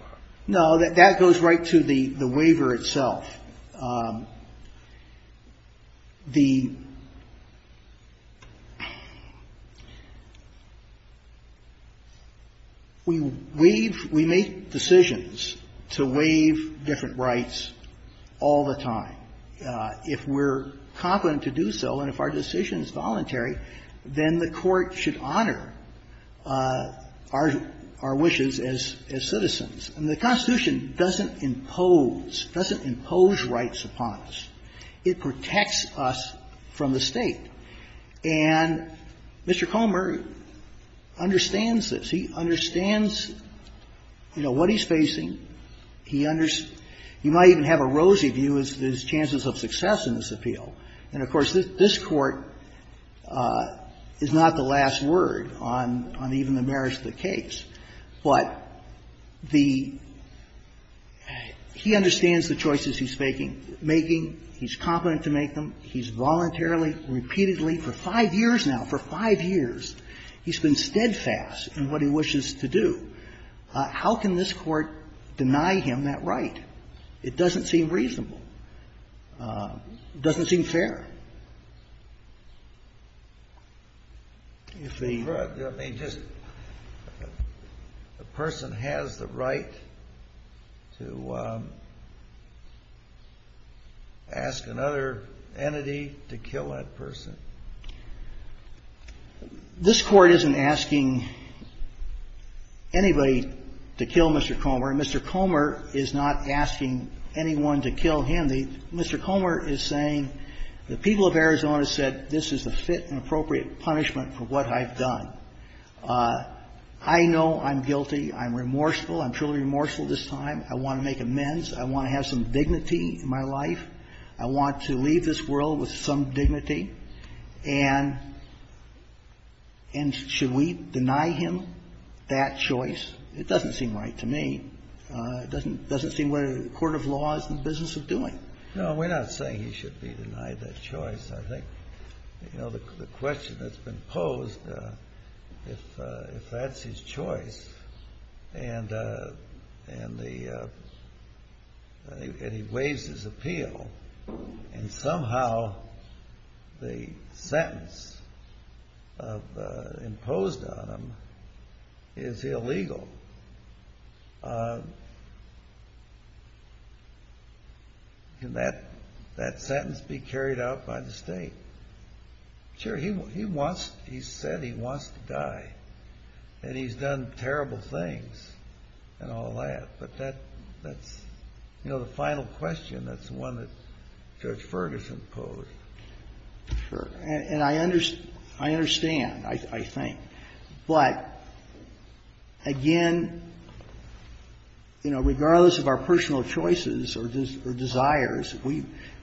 No, that goes right to the waiver itself. But the – we waive – we make decisions to waive different rights all the time. If we're competent to do so and if our decision is voluntary, then the Court should honor our – our wishes as citizens. And the Constitution doesn't impose – doesn't impose rights upon us. It protects us from the State. And Mr. Comer understands this. He understands, you know, what he's facing. He understands – he might even have a rosy view as to his chances of success in this appeal. And, of course, this Court is not the last word on – on even the merits of the case. But the – he understands the choices he's making. He's competent to make them. He's voluntarily, repeatedly, for five years now, for five years, he's been steadfast in what he wishes to do. How can this Court deny him that right? It doesn't seem reasonable. It doesn't seem fair. If the – I mean, just – a person has the right to ask another entity to kill that person? This Court isn't asking anybody to kill Mr. Comer. And Mr. Comer is not asking anyone to kill him. And the – Mr. Comer is saying the people of Arizona said this is the fit and appropriate punishment for what I've done. I know I'm guilty. I'm remorseful. I'm truly remorseful this time. I want to make amends. I want to have some dignity in my life. I want to leave this world with some dignity. And should we deny him that choice? It doesn't seem right to me. It doesn't seem what a court of law is in the business of doing. No, we're not saying he should be denied that choice. I think, you know, the question that's been posed, if that's his choice and the – and he waives his appeal, and somehow the sentence imposed on him is illegal, can that sentence be carried out by the State? Sure. He wants – he said he wants to die. And he's done terrible things and all that. But that's – you know, the final question, that's the one that Judge Ferguson posed. And I understand, I think. But, again, you know, regardless of our personal choices or desires,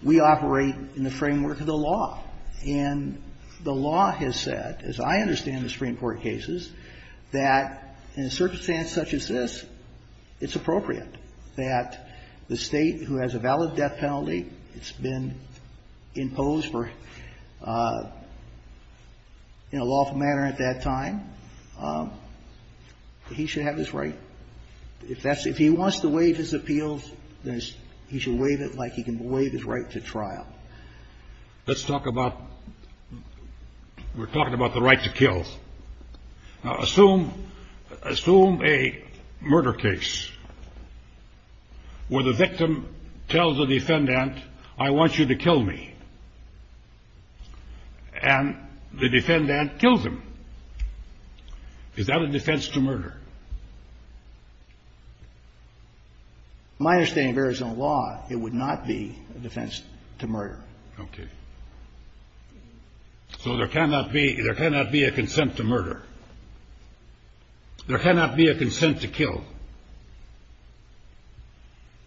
we operate in the framework of the law. And the law has said, as I understand the Supreme Court cases, that in a circumstance such as this, it's appropriate that the State, who has a valid death penalty, it's been imposed for – in a lawful manner at that time. He should have his right. If that's – if he wants to waive his appeals, then he should waive it like he can waive his right to trial. Let's talk about – we're talking about the right to kill. Now, assume – assume a murder case where the victim tells the defendant, I want you to kill me, and the defendant kills him. Is that a defense to murder? My understanding of Arizona law, it would not be a defense to murder. Okay. So there cannot be – there cannot be a consent to murder. There cannot be a consent to kill.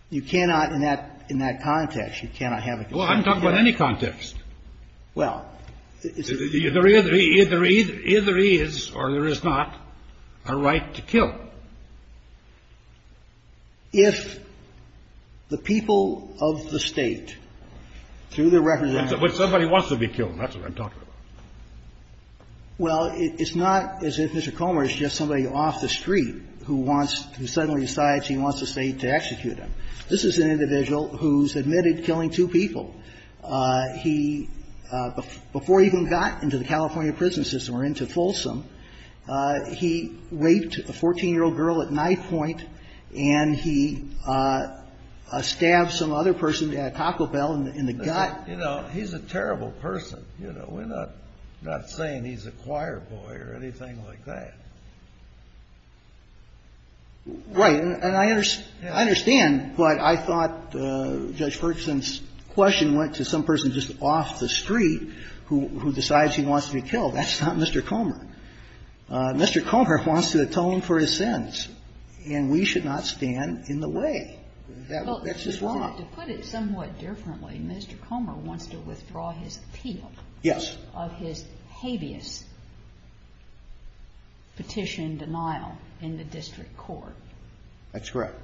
You cannot in that – in that context, you cannot have a consent to kill. Well, I'm talking about any context. Well, it's a – Well, if the people of the State, through the representative – But somebody wants to be killed. That's what I'm talking about. Well, it's not as if Mr. Comer is just somebody off the street who wants – who suddenly decides he wants the State to execute him. This is an individual who's admitted killing two people. He – before he even got into the California prison system or into Folsom, he raped a 14-year-old girl at night point, and he stabbed some other person at Taco Bell in the gut. You know, he's a terrible person. You know, we're not – we're not saying he's a choir boy or anything like that. Right. And I understand, but I thought Judge Ferguson's question went to some person just off the street who decides he wants to be killed. That's not Mr. Comer. Mr. Comer wants to atone for his sins, and we should not stand in the way. That's just wrong. Well, to put it somewhat differently, Mr. Comer wants to withdraw his appeal. Yes. Of his habeas petition denial in the district court. That's correct.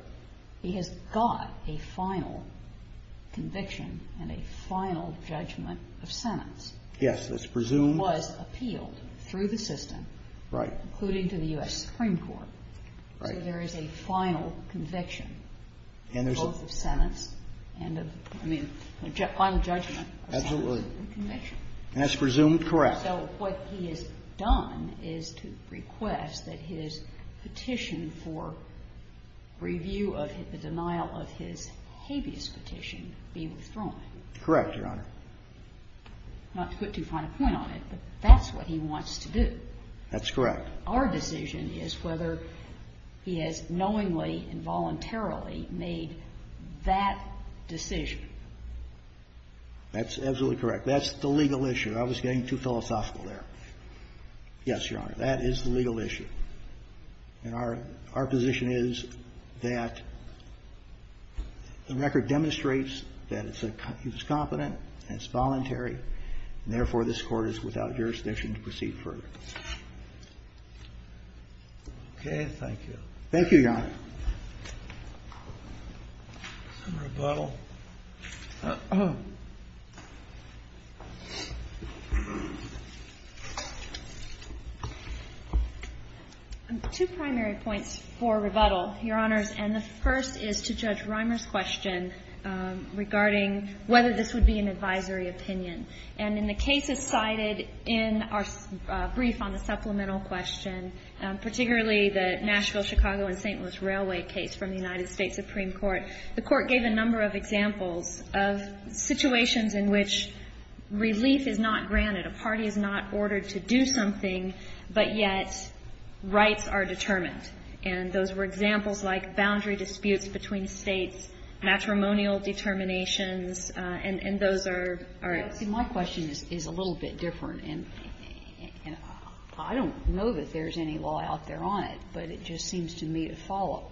He has got a final conviction and a final judgment of sentence. Yes, that's presumed. He was appealed through the system. Right. Including to the U.S. Supreme Court. Right. So there is a final conviction. And there's a – Both of sentence and of – I mean, a final judgment of sentence and conviction. Absolutely. And that's presumed correct. So what he has done is to request that his petition for review of the denial of his habeas petition be withdrawn. Correct, Your Honor. Not to put too fine a point on it, but that's what he wants to do. That's correct. Our decision is whether he has knowingly and voluntarily made that decision. That's absolutely correct. That's the legal issue. I was getting too philosophical there. Yes, Your Honor. That is the legal issue. And our position is that the record demonstrates that he was confident and it's voluntary. And therefore, this Court is without jurisdiction to proceed further. Okay. Thank you, Your Honor. Some rebuttal. Two primary points for rebuttal, Your Honors. And the first is to Judge Reimer's question regarding whether this would be an advisory opinion. And in the cases cited in our brief on the supplemental question, particularly the Nashville, Chicago, and St. Louis Railway case from the United States Supreme Court, the Court gave a number of examples of situations in which relief is not granted, a party is not ordered to do something, but yet rights are determined. And those were examples like boundary disputes between States, matrimonial determinations, and those are at stake. My question is a little bit different. And I don't know that there's any law out there on it, but it just seems to me to follow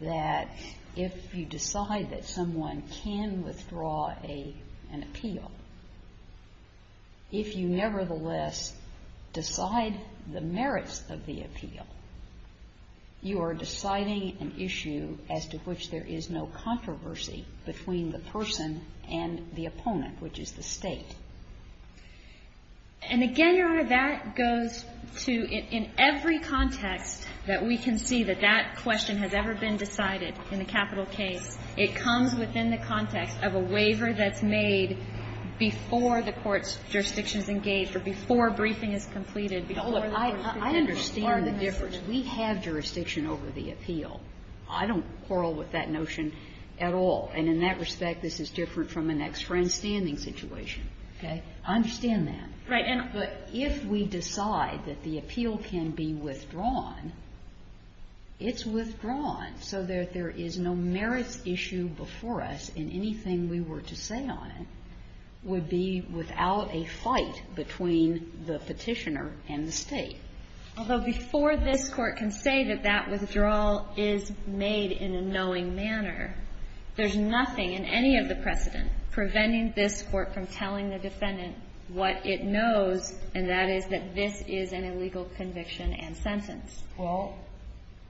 that if you decide that someone can withdraw an appeal, if you nevertheless decide the merits of the appeal, you are deciding an issue as to which there is no controversy between the person and the opponent, which is the State. And again, Your Honor, that goes to in every context that we can see that that question has ever been decided in the capital case, it comes within the context of a waiver that's made before the court's jurisdiction is engaged, or before a briefing is completed, before the court is presented. I understand the difference. We have jurisdiction over the appeal. I don't quarrel with that notion at all. And in that respect, this is different from an ex-friend standing situation. Okay? I understand that. Right. But if we decide that the appeal can be withdrawn, it's withdrawn so that there is no merits issue before us, and anything we were to say on it would be without a fight between the Petitioner and the State. Although before this Court can say that that withdrawal is made in a knowing manner, there's nothing in any of the precedent preventing this Court from telling the defendant what it knows, and that is that this is an illegal conviction and sentence. Well,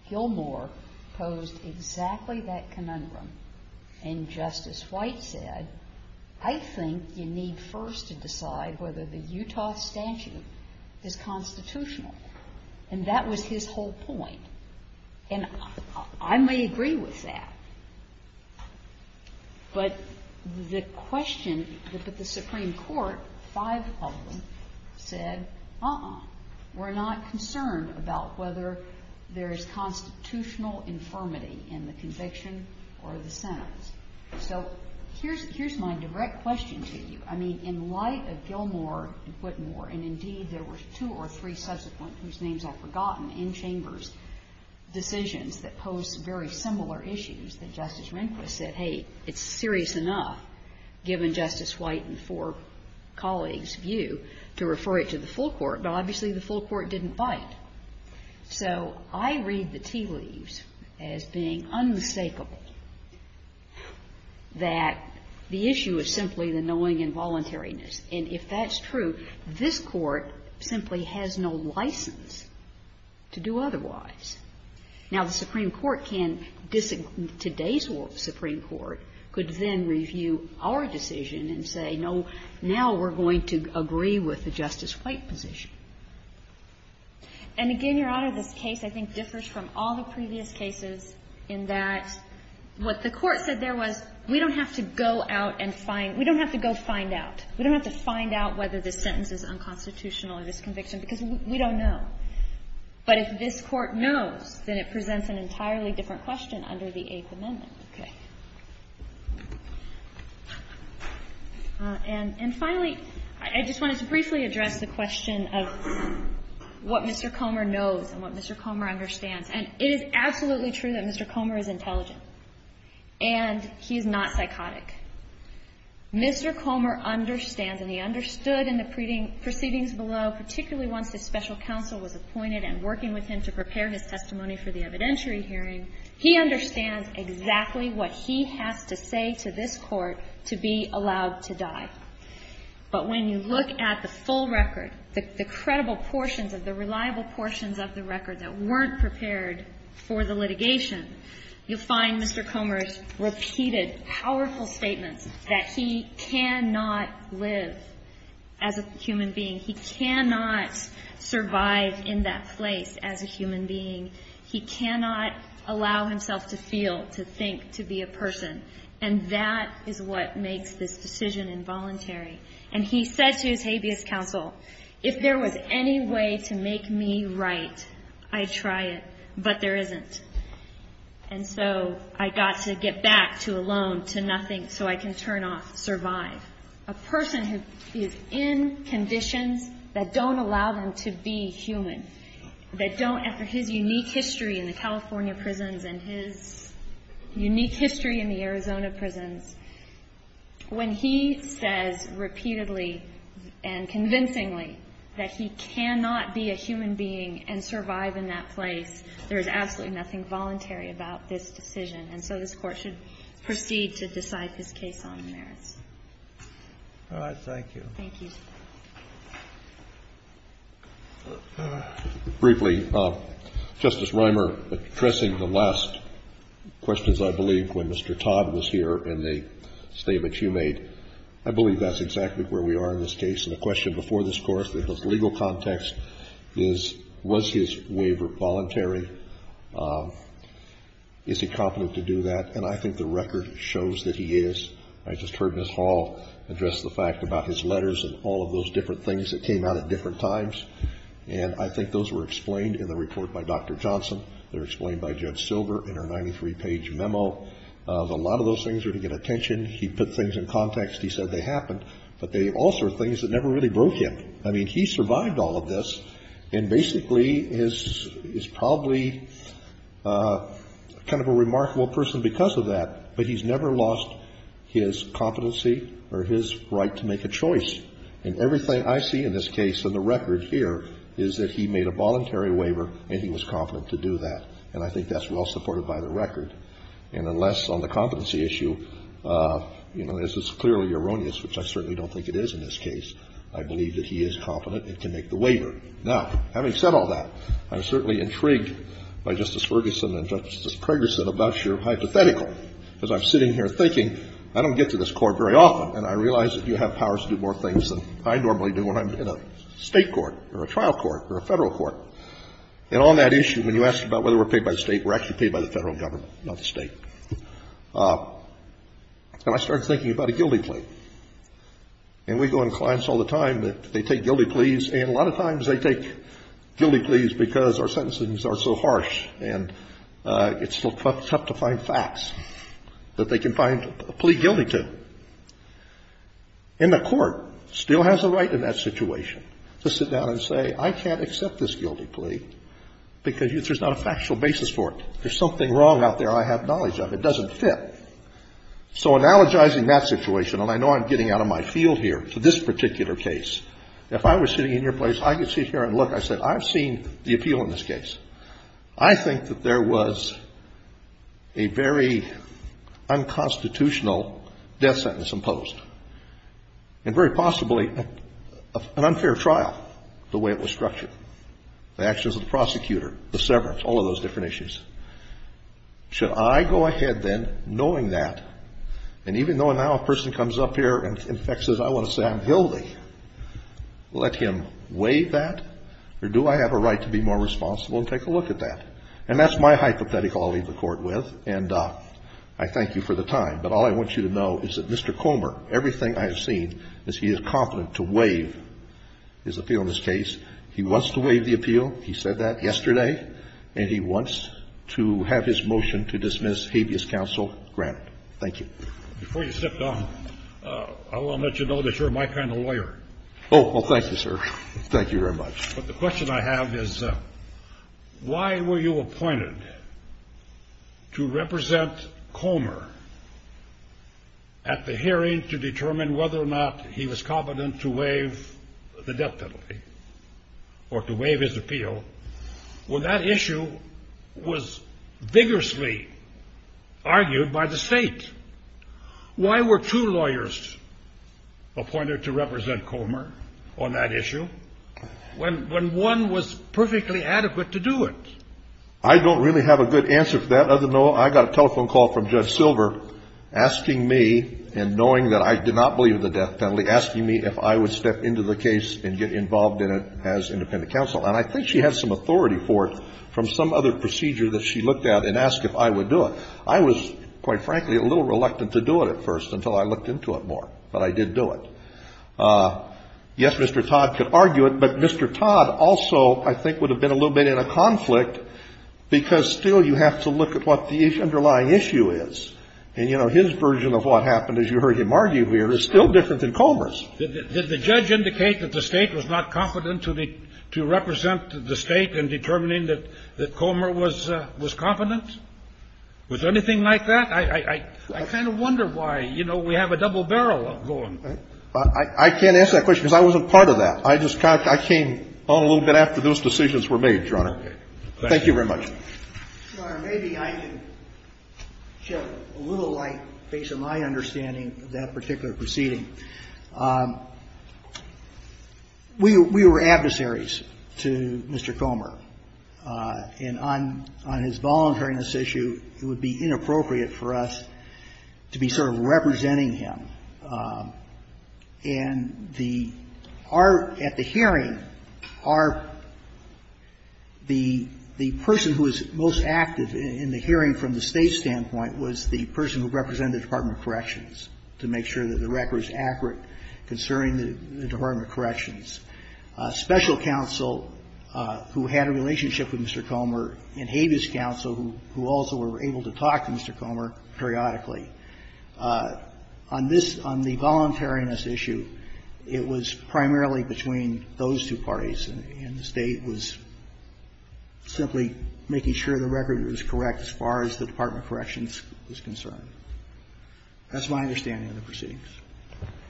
Gilmour posed exactly that conundrum. And Justice White said, I think you need first to decide whether the Utah statute is constitutional. And that was his whole point. And I may agree with that. But the question that the Supreme Court, five of them, said, uh-uh. We're not concerned about whether there is constitutional infirmity in the conviction or the sentence. So here's my direct question to you. I mean, in light of Gilmour and Whitmore, and indeed there were two or three subsequent, whose names I've forgotten, in chambers, decisions that posed very similar issues that Justice Rehnquist said, hey, it's serious enough, given Justice White and four colleagues' view, to refer it to the full court. But obviously the full court didn't bite. So I read the tea leaves as being unmistakable that the issue is simply the knowing involuntariness. And if that's true, this Court simply has no license to do otherwise. Now, the Supreme Court can disagree. Today's Supreme Court could then review our decision and say, no, now we're going to agree with the Justice White position. And again, Your Honor, this case, I think, differs from all the previous cases in that what the Court said there was, we don't have to go out and find – we don't have to go find out. We don't have to find out whether this sentence is unconstitutional or disconviction because we don't know. But if this Court knows, then it presents an entirely different question under the Eighth Amendment. Okay. And finally, I just wanted to briefly address the question of what Mr. Comer knows and what Mr. Comer understands. And it is absolutely true that Mr. Comer is intelligent, and he is not psychotic. Mr. Comer understands, and he understood in the proceedings below, particularly once the special counsel was appointed and working with him to prepare his testimony for the evidentiary hearing, he understands exactly what he has to say to this Court to be allowed to die. But when you look at the full record, the credible portions of the reliable portions of the record that weren't prepared for the litigation, you'll find Mr. Comer's repeated, powerful statements that he cannot live as a human being. He cannot survive in that place as a human being. He cannot allow himself to feel, to think, to be a person. And that is what makes this decision involuntary. And he said to his habeas counsel, if there was any way to make me right, I'd try it, but there isn't. And so I got to get back to alone, to nothing, so I can turn off survive. A person who is in conditions that don't allow them to be human, that don't, after his unique history in the California prisons and his unique history in the Arizona prisons, when he says repeatedly and convincingly that he cannot be a human being and survive in that place, there is absolutely nothing voluntary about this decision, and so this Court should proceed to decide his case on the merits. All right. Thank you. Thank you. Briefly, Justice Reimer, addressing the last questions, I believe, when Mr. Todd was here in the statement you made, I believe that's exactly where we are in this case. And the question before this Court in the legal context is, was his waiver voluntary? Is he competent to do that? And I think the record shows that he is. I just heard Ms. Hall address the fact about his letters and all of those different things that came out at different times, and I think those were explained in the report by Dr. Johnson. They were explained by Judge Silver in her 93-page memo. A lot of those things are to get attention. He put things in context. He said they happened. But they also are things that never really broke him. I mean, he survived all of this and basically is probably kind of a remarkable person because of that, but he's never lost his competency or his right to make a choice. And everything I see in this case in the record here is that he made a voluntary waiver and he was competent to do that. And I think that's well supported by the record. And unless on the competency issue, you know, this is clearly erroneous, which I certainly don't think it is in this case, I believe that he is competent and can make the waiver. Now, having said all that, I'm certainly intrigued by Justice Ferguson and Justice Pregerson about your hypothetical, because I'm sitting here thinking, I don't get to this Court very often, and I realize that you have powers to do more things than I normally do when I'm in a State court or a trial court or a Federal court. And on that issue, when you asked about whether we're paid by the State, we're actually paid by the Federal government, not the State. And I started thinking about a guilty plea. And we go into clients all the time that they take guilty pleas, and a lot of times they take guilty pleas because our sentencings are so harsh and it's tough to find facts that they can find a plea guilty to. And the Court still has a right in that situation to sit down and say, I can't accept this guilty plea because there's not a factual basis for it. There's something wrong out there I have knowledge of. It doesn't fit. So analogizing that situation, and I know I'm getting out of my field here to this particular case, if I were sitting in your place, I could sit here and look. I said, I've seen the appeal in this case. I think that there was a very unconstitutional death sentence imposed, and very possibly an unfair trial, the way it was structured. The actions of the prosecutor, the severance, all of those different issues. Should I go ahead then, knowing that, and even though now a person comes up here and in fact says, I want to say I'm guilty, let him waive that? Or do I have a right to be more responsible and take a look at that? And that's my hypothetical I'll leave the Court with, and I thank you for the time. But all I want you to know is that Mr. Comer, everything I have seen, is he is confident to waive his appeal in this case. He wants to waive the appeal. He said that yesterday. And he wants to have his motion to dismiss habeas counsel granted. Thank you. Before you step down, I want to let you know that you're my kind of lawyer. Oh, well, thank you, sir. Thank you very much. But the question I have is, why were you appointed to represent Comer at the hearing to determine whether or not he was competent to waive the death penalty or to waive his appeal when that issue was vigorously argued by the State? Why were two lawyers appointed to represent Comer on that issue when one was perfectly adequate to do it? I don't really have a good answer for that. As you know, I got a telephone call from Judge Silver asking me, and knowing that I did not believe in the death penalty, asking me if I would step into the case and get involved in it as independent counsel. And I think she had some authority for it from some other procedure that she looked at and asked if I would do it. I was, quite frankly, a little reluctant to do it at first until I looked into it more. But I did do it. Yes, Mr. Todd could argue it, but Mr. Todd also, I think, would have been a little bit in a conflict because still you have to look at what the underlying issue is. And, you know, his version of what happened, as you heard him argue here, is still different than Comer's. Did the judge indicate that the State was not competent to represent the State in determining that Comer was competent? Was there anything like that? I kind of wonder why. You know, we have a double barrel going. I can't answer that question because I wasn't part of that. I just kind of, I came on a little bit after those decisions were made, Your Honor. Thank you very much. Your Honor, maybe I can shed a little light based on my understanding of that particular proceeding. We were adversaries to Mr. Comer. And on his voluntariness issue, it would be inappropriate for us to be sort of representing him. And the, our, at the hearing, our, the person who was most active in the hearing from the State's standpoint was the person who represented the Department of Corrections to make sure that the record was accurate concerning the Department of Corrections. Special counsel who had a relationship with Mr. Comer and habeas counsel who also were able to talk to Mr. Comer periodically. On this, on the voluntariness issue, it was primarily between those two parties, and the State was simply making sure the record was correct as far as the Department of Corrections was concerned. That's my understanding of the proceedings.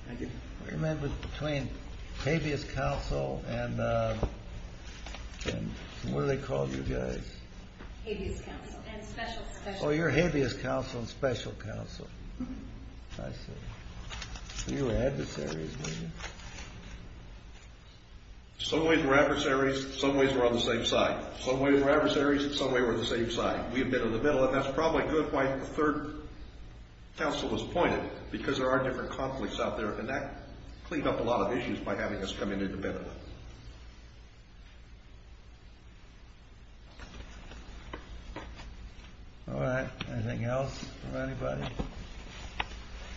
Thank you. What do you mean between habeas counsel and, and what do they call you guys? Habeas counsel. And special counsel. Oh, you're habeas counsel and special counsel. Mm-hmm. I see. So you were adversaries, were you? Some ways we're adversaries, some ways we're on the same side. Some ways we're adversaries, some ways we're on the same side. We have been in the middle, and that's probably good why the third counsel was appointed, because there are different conflicts out there, and that cleaned up a lot of issues by having us come in independently. All right. Anything else from anybody?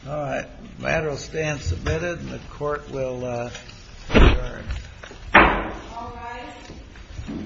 All right. The matter will stand submitted, and the court will adjourn. All rise.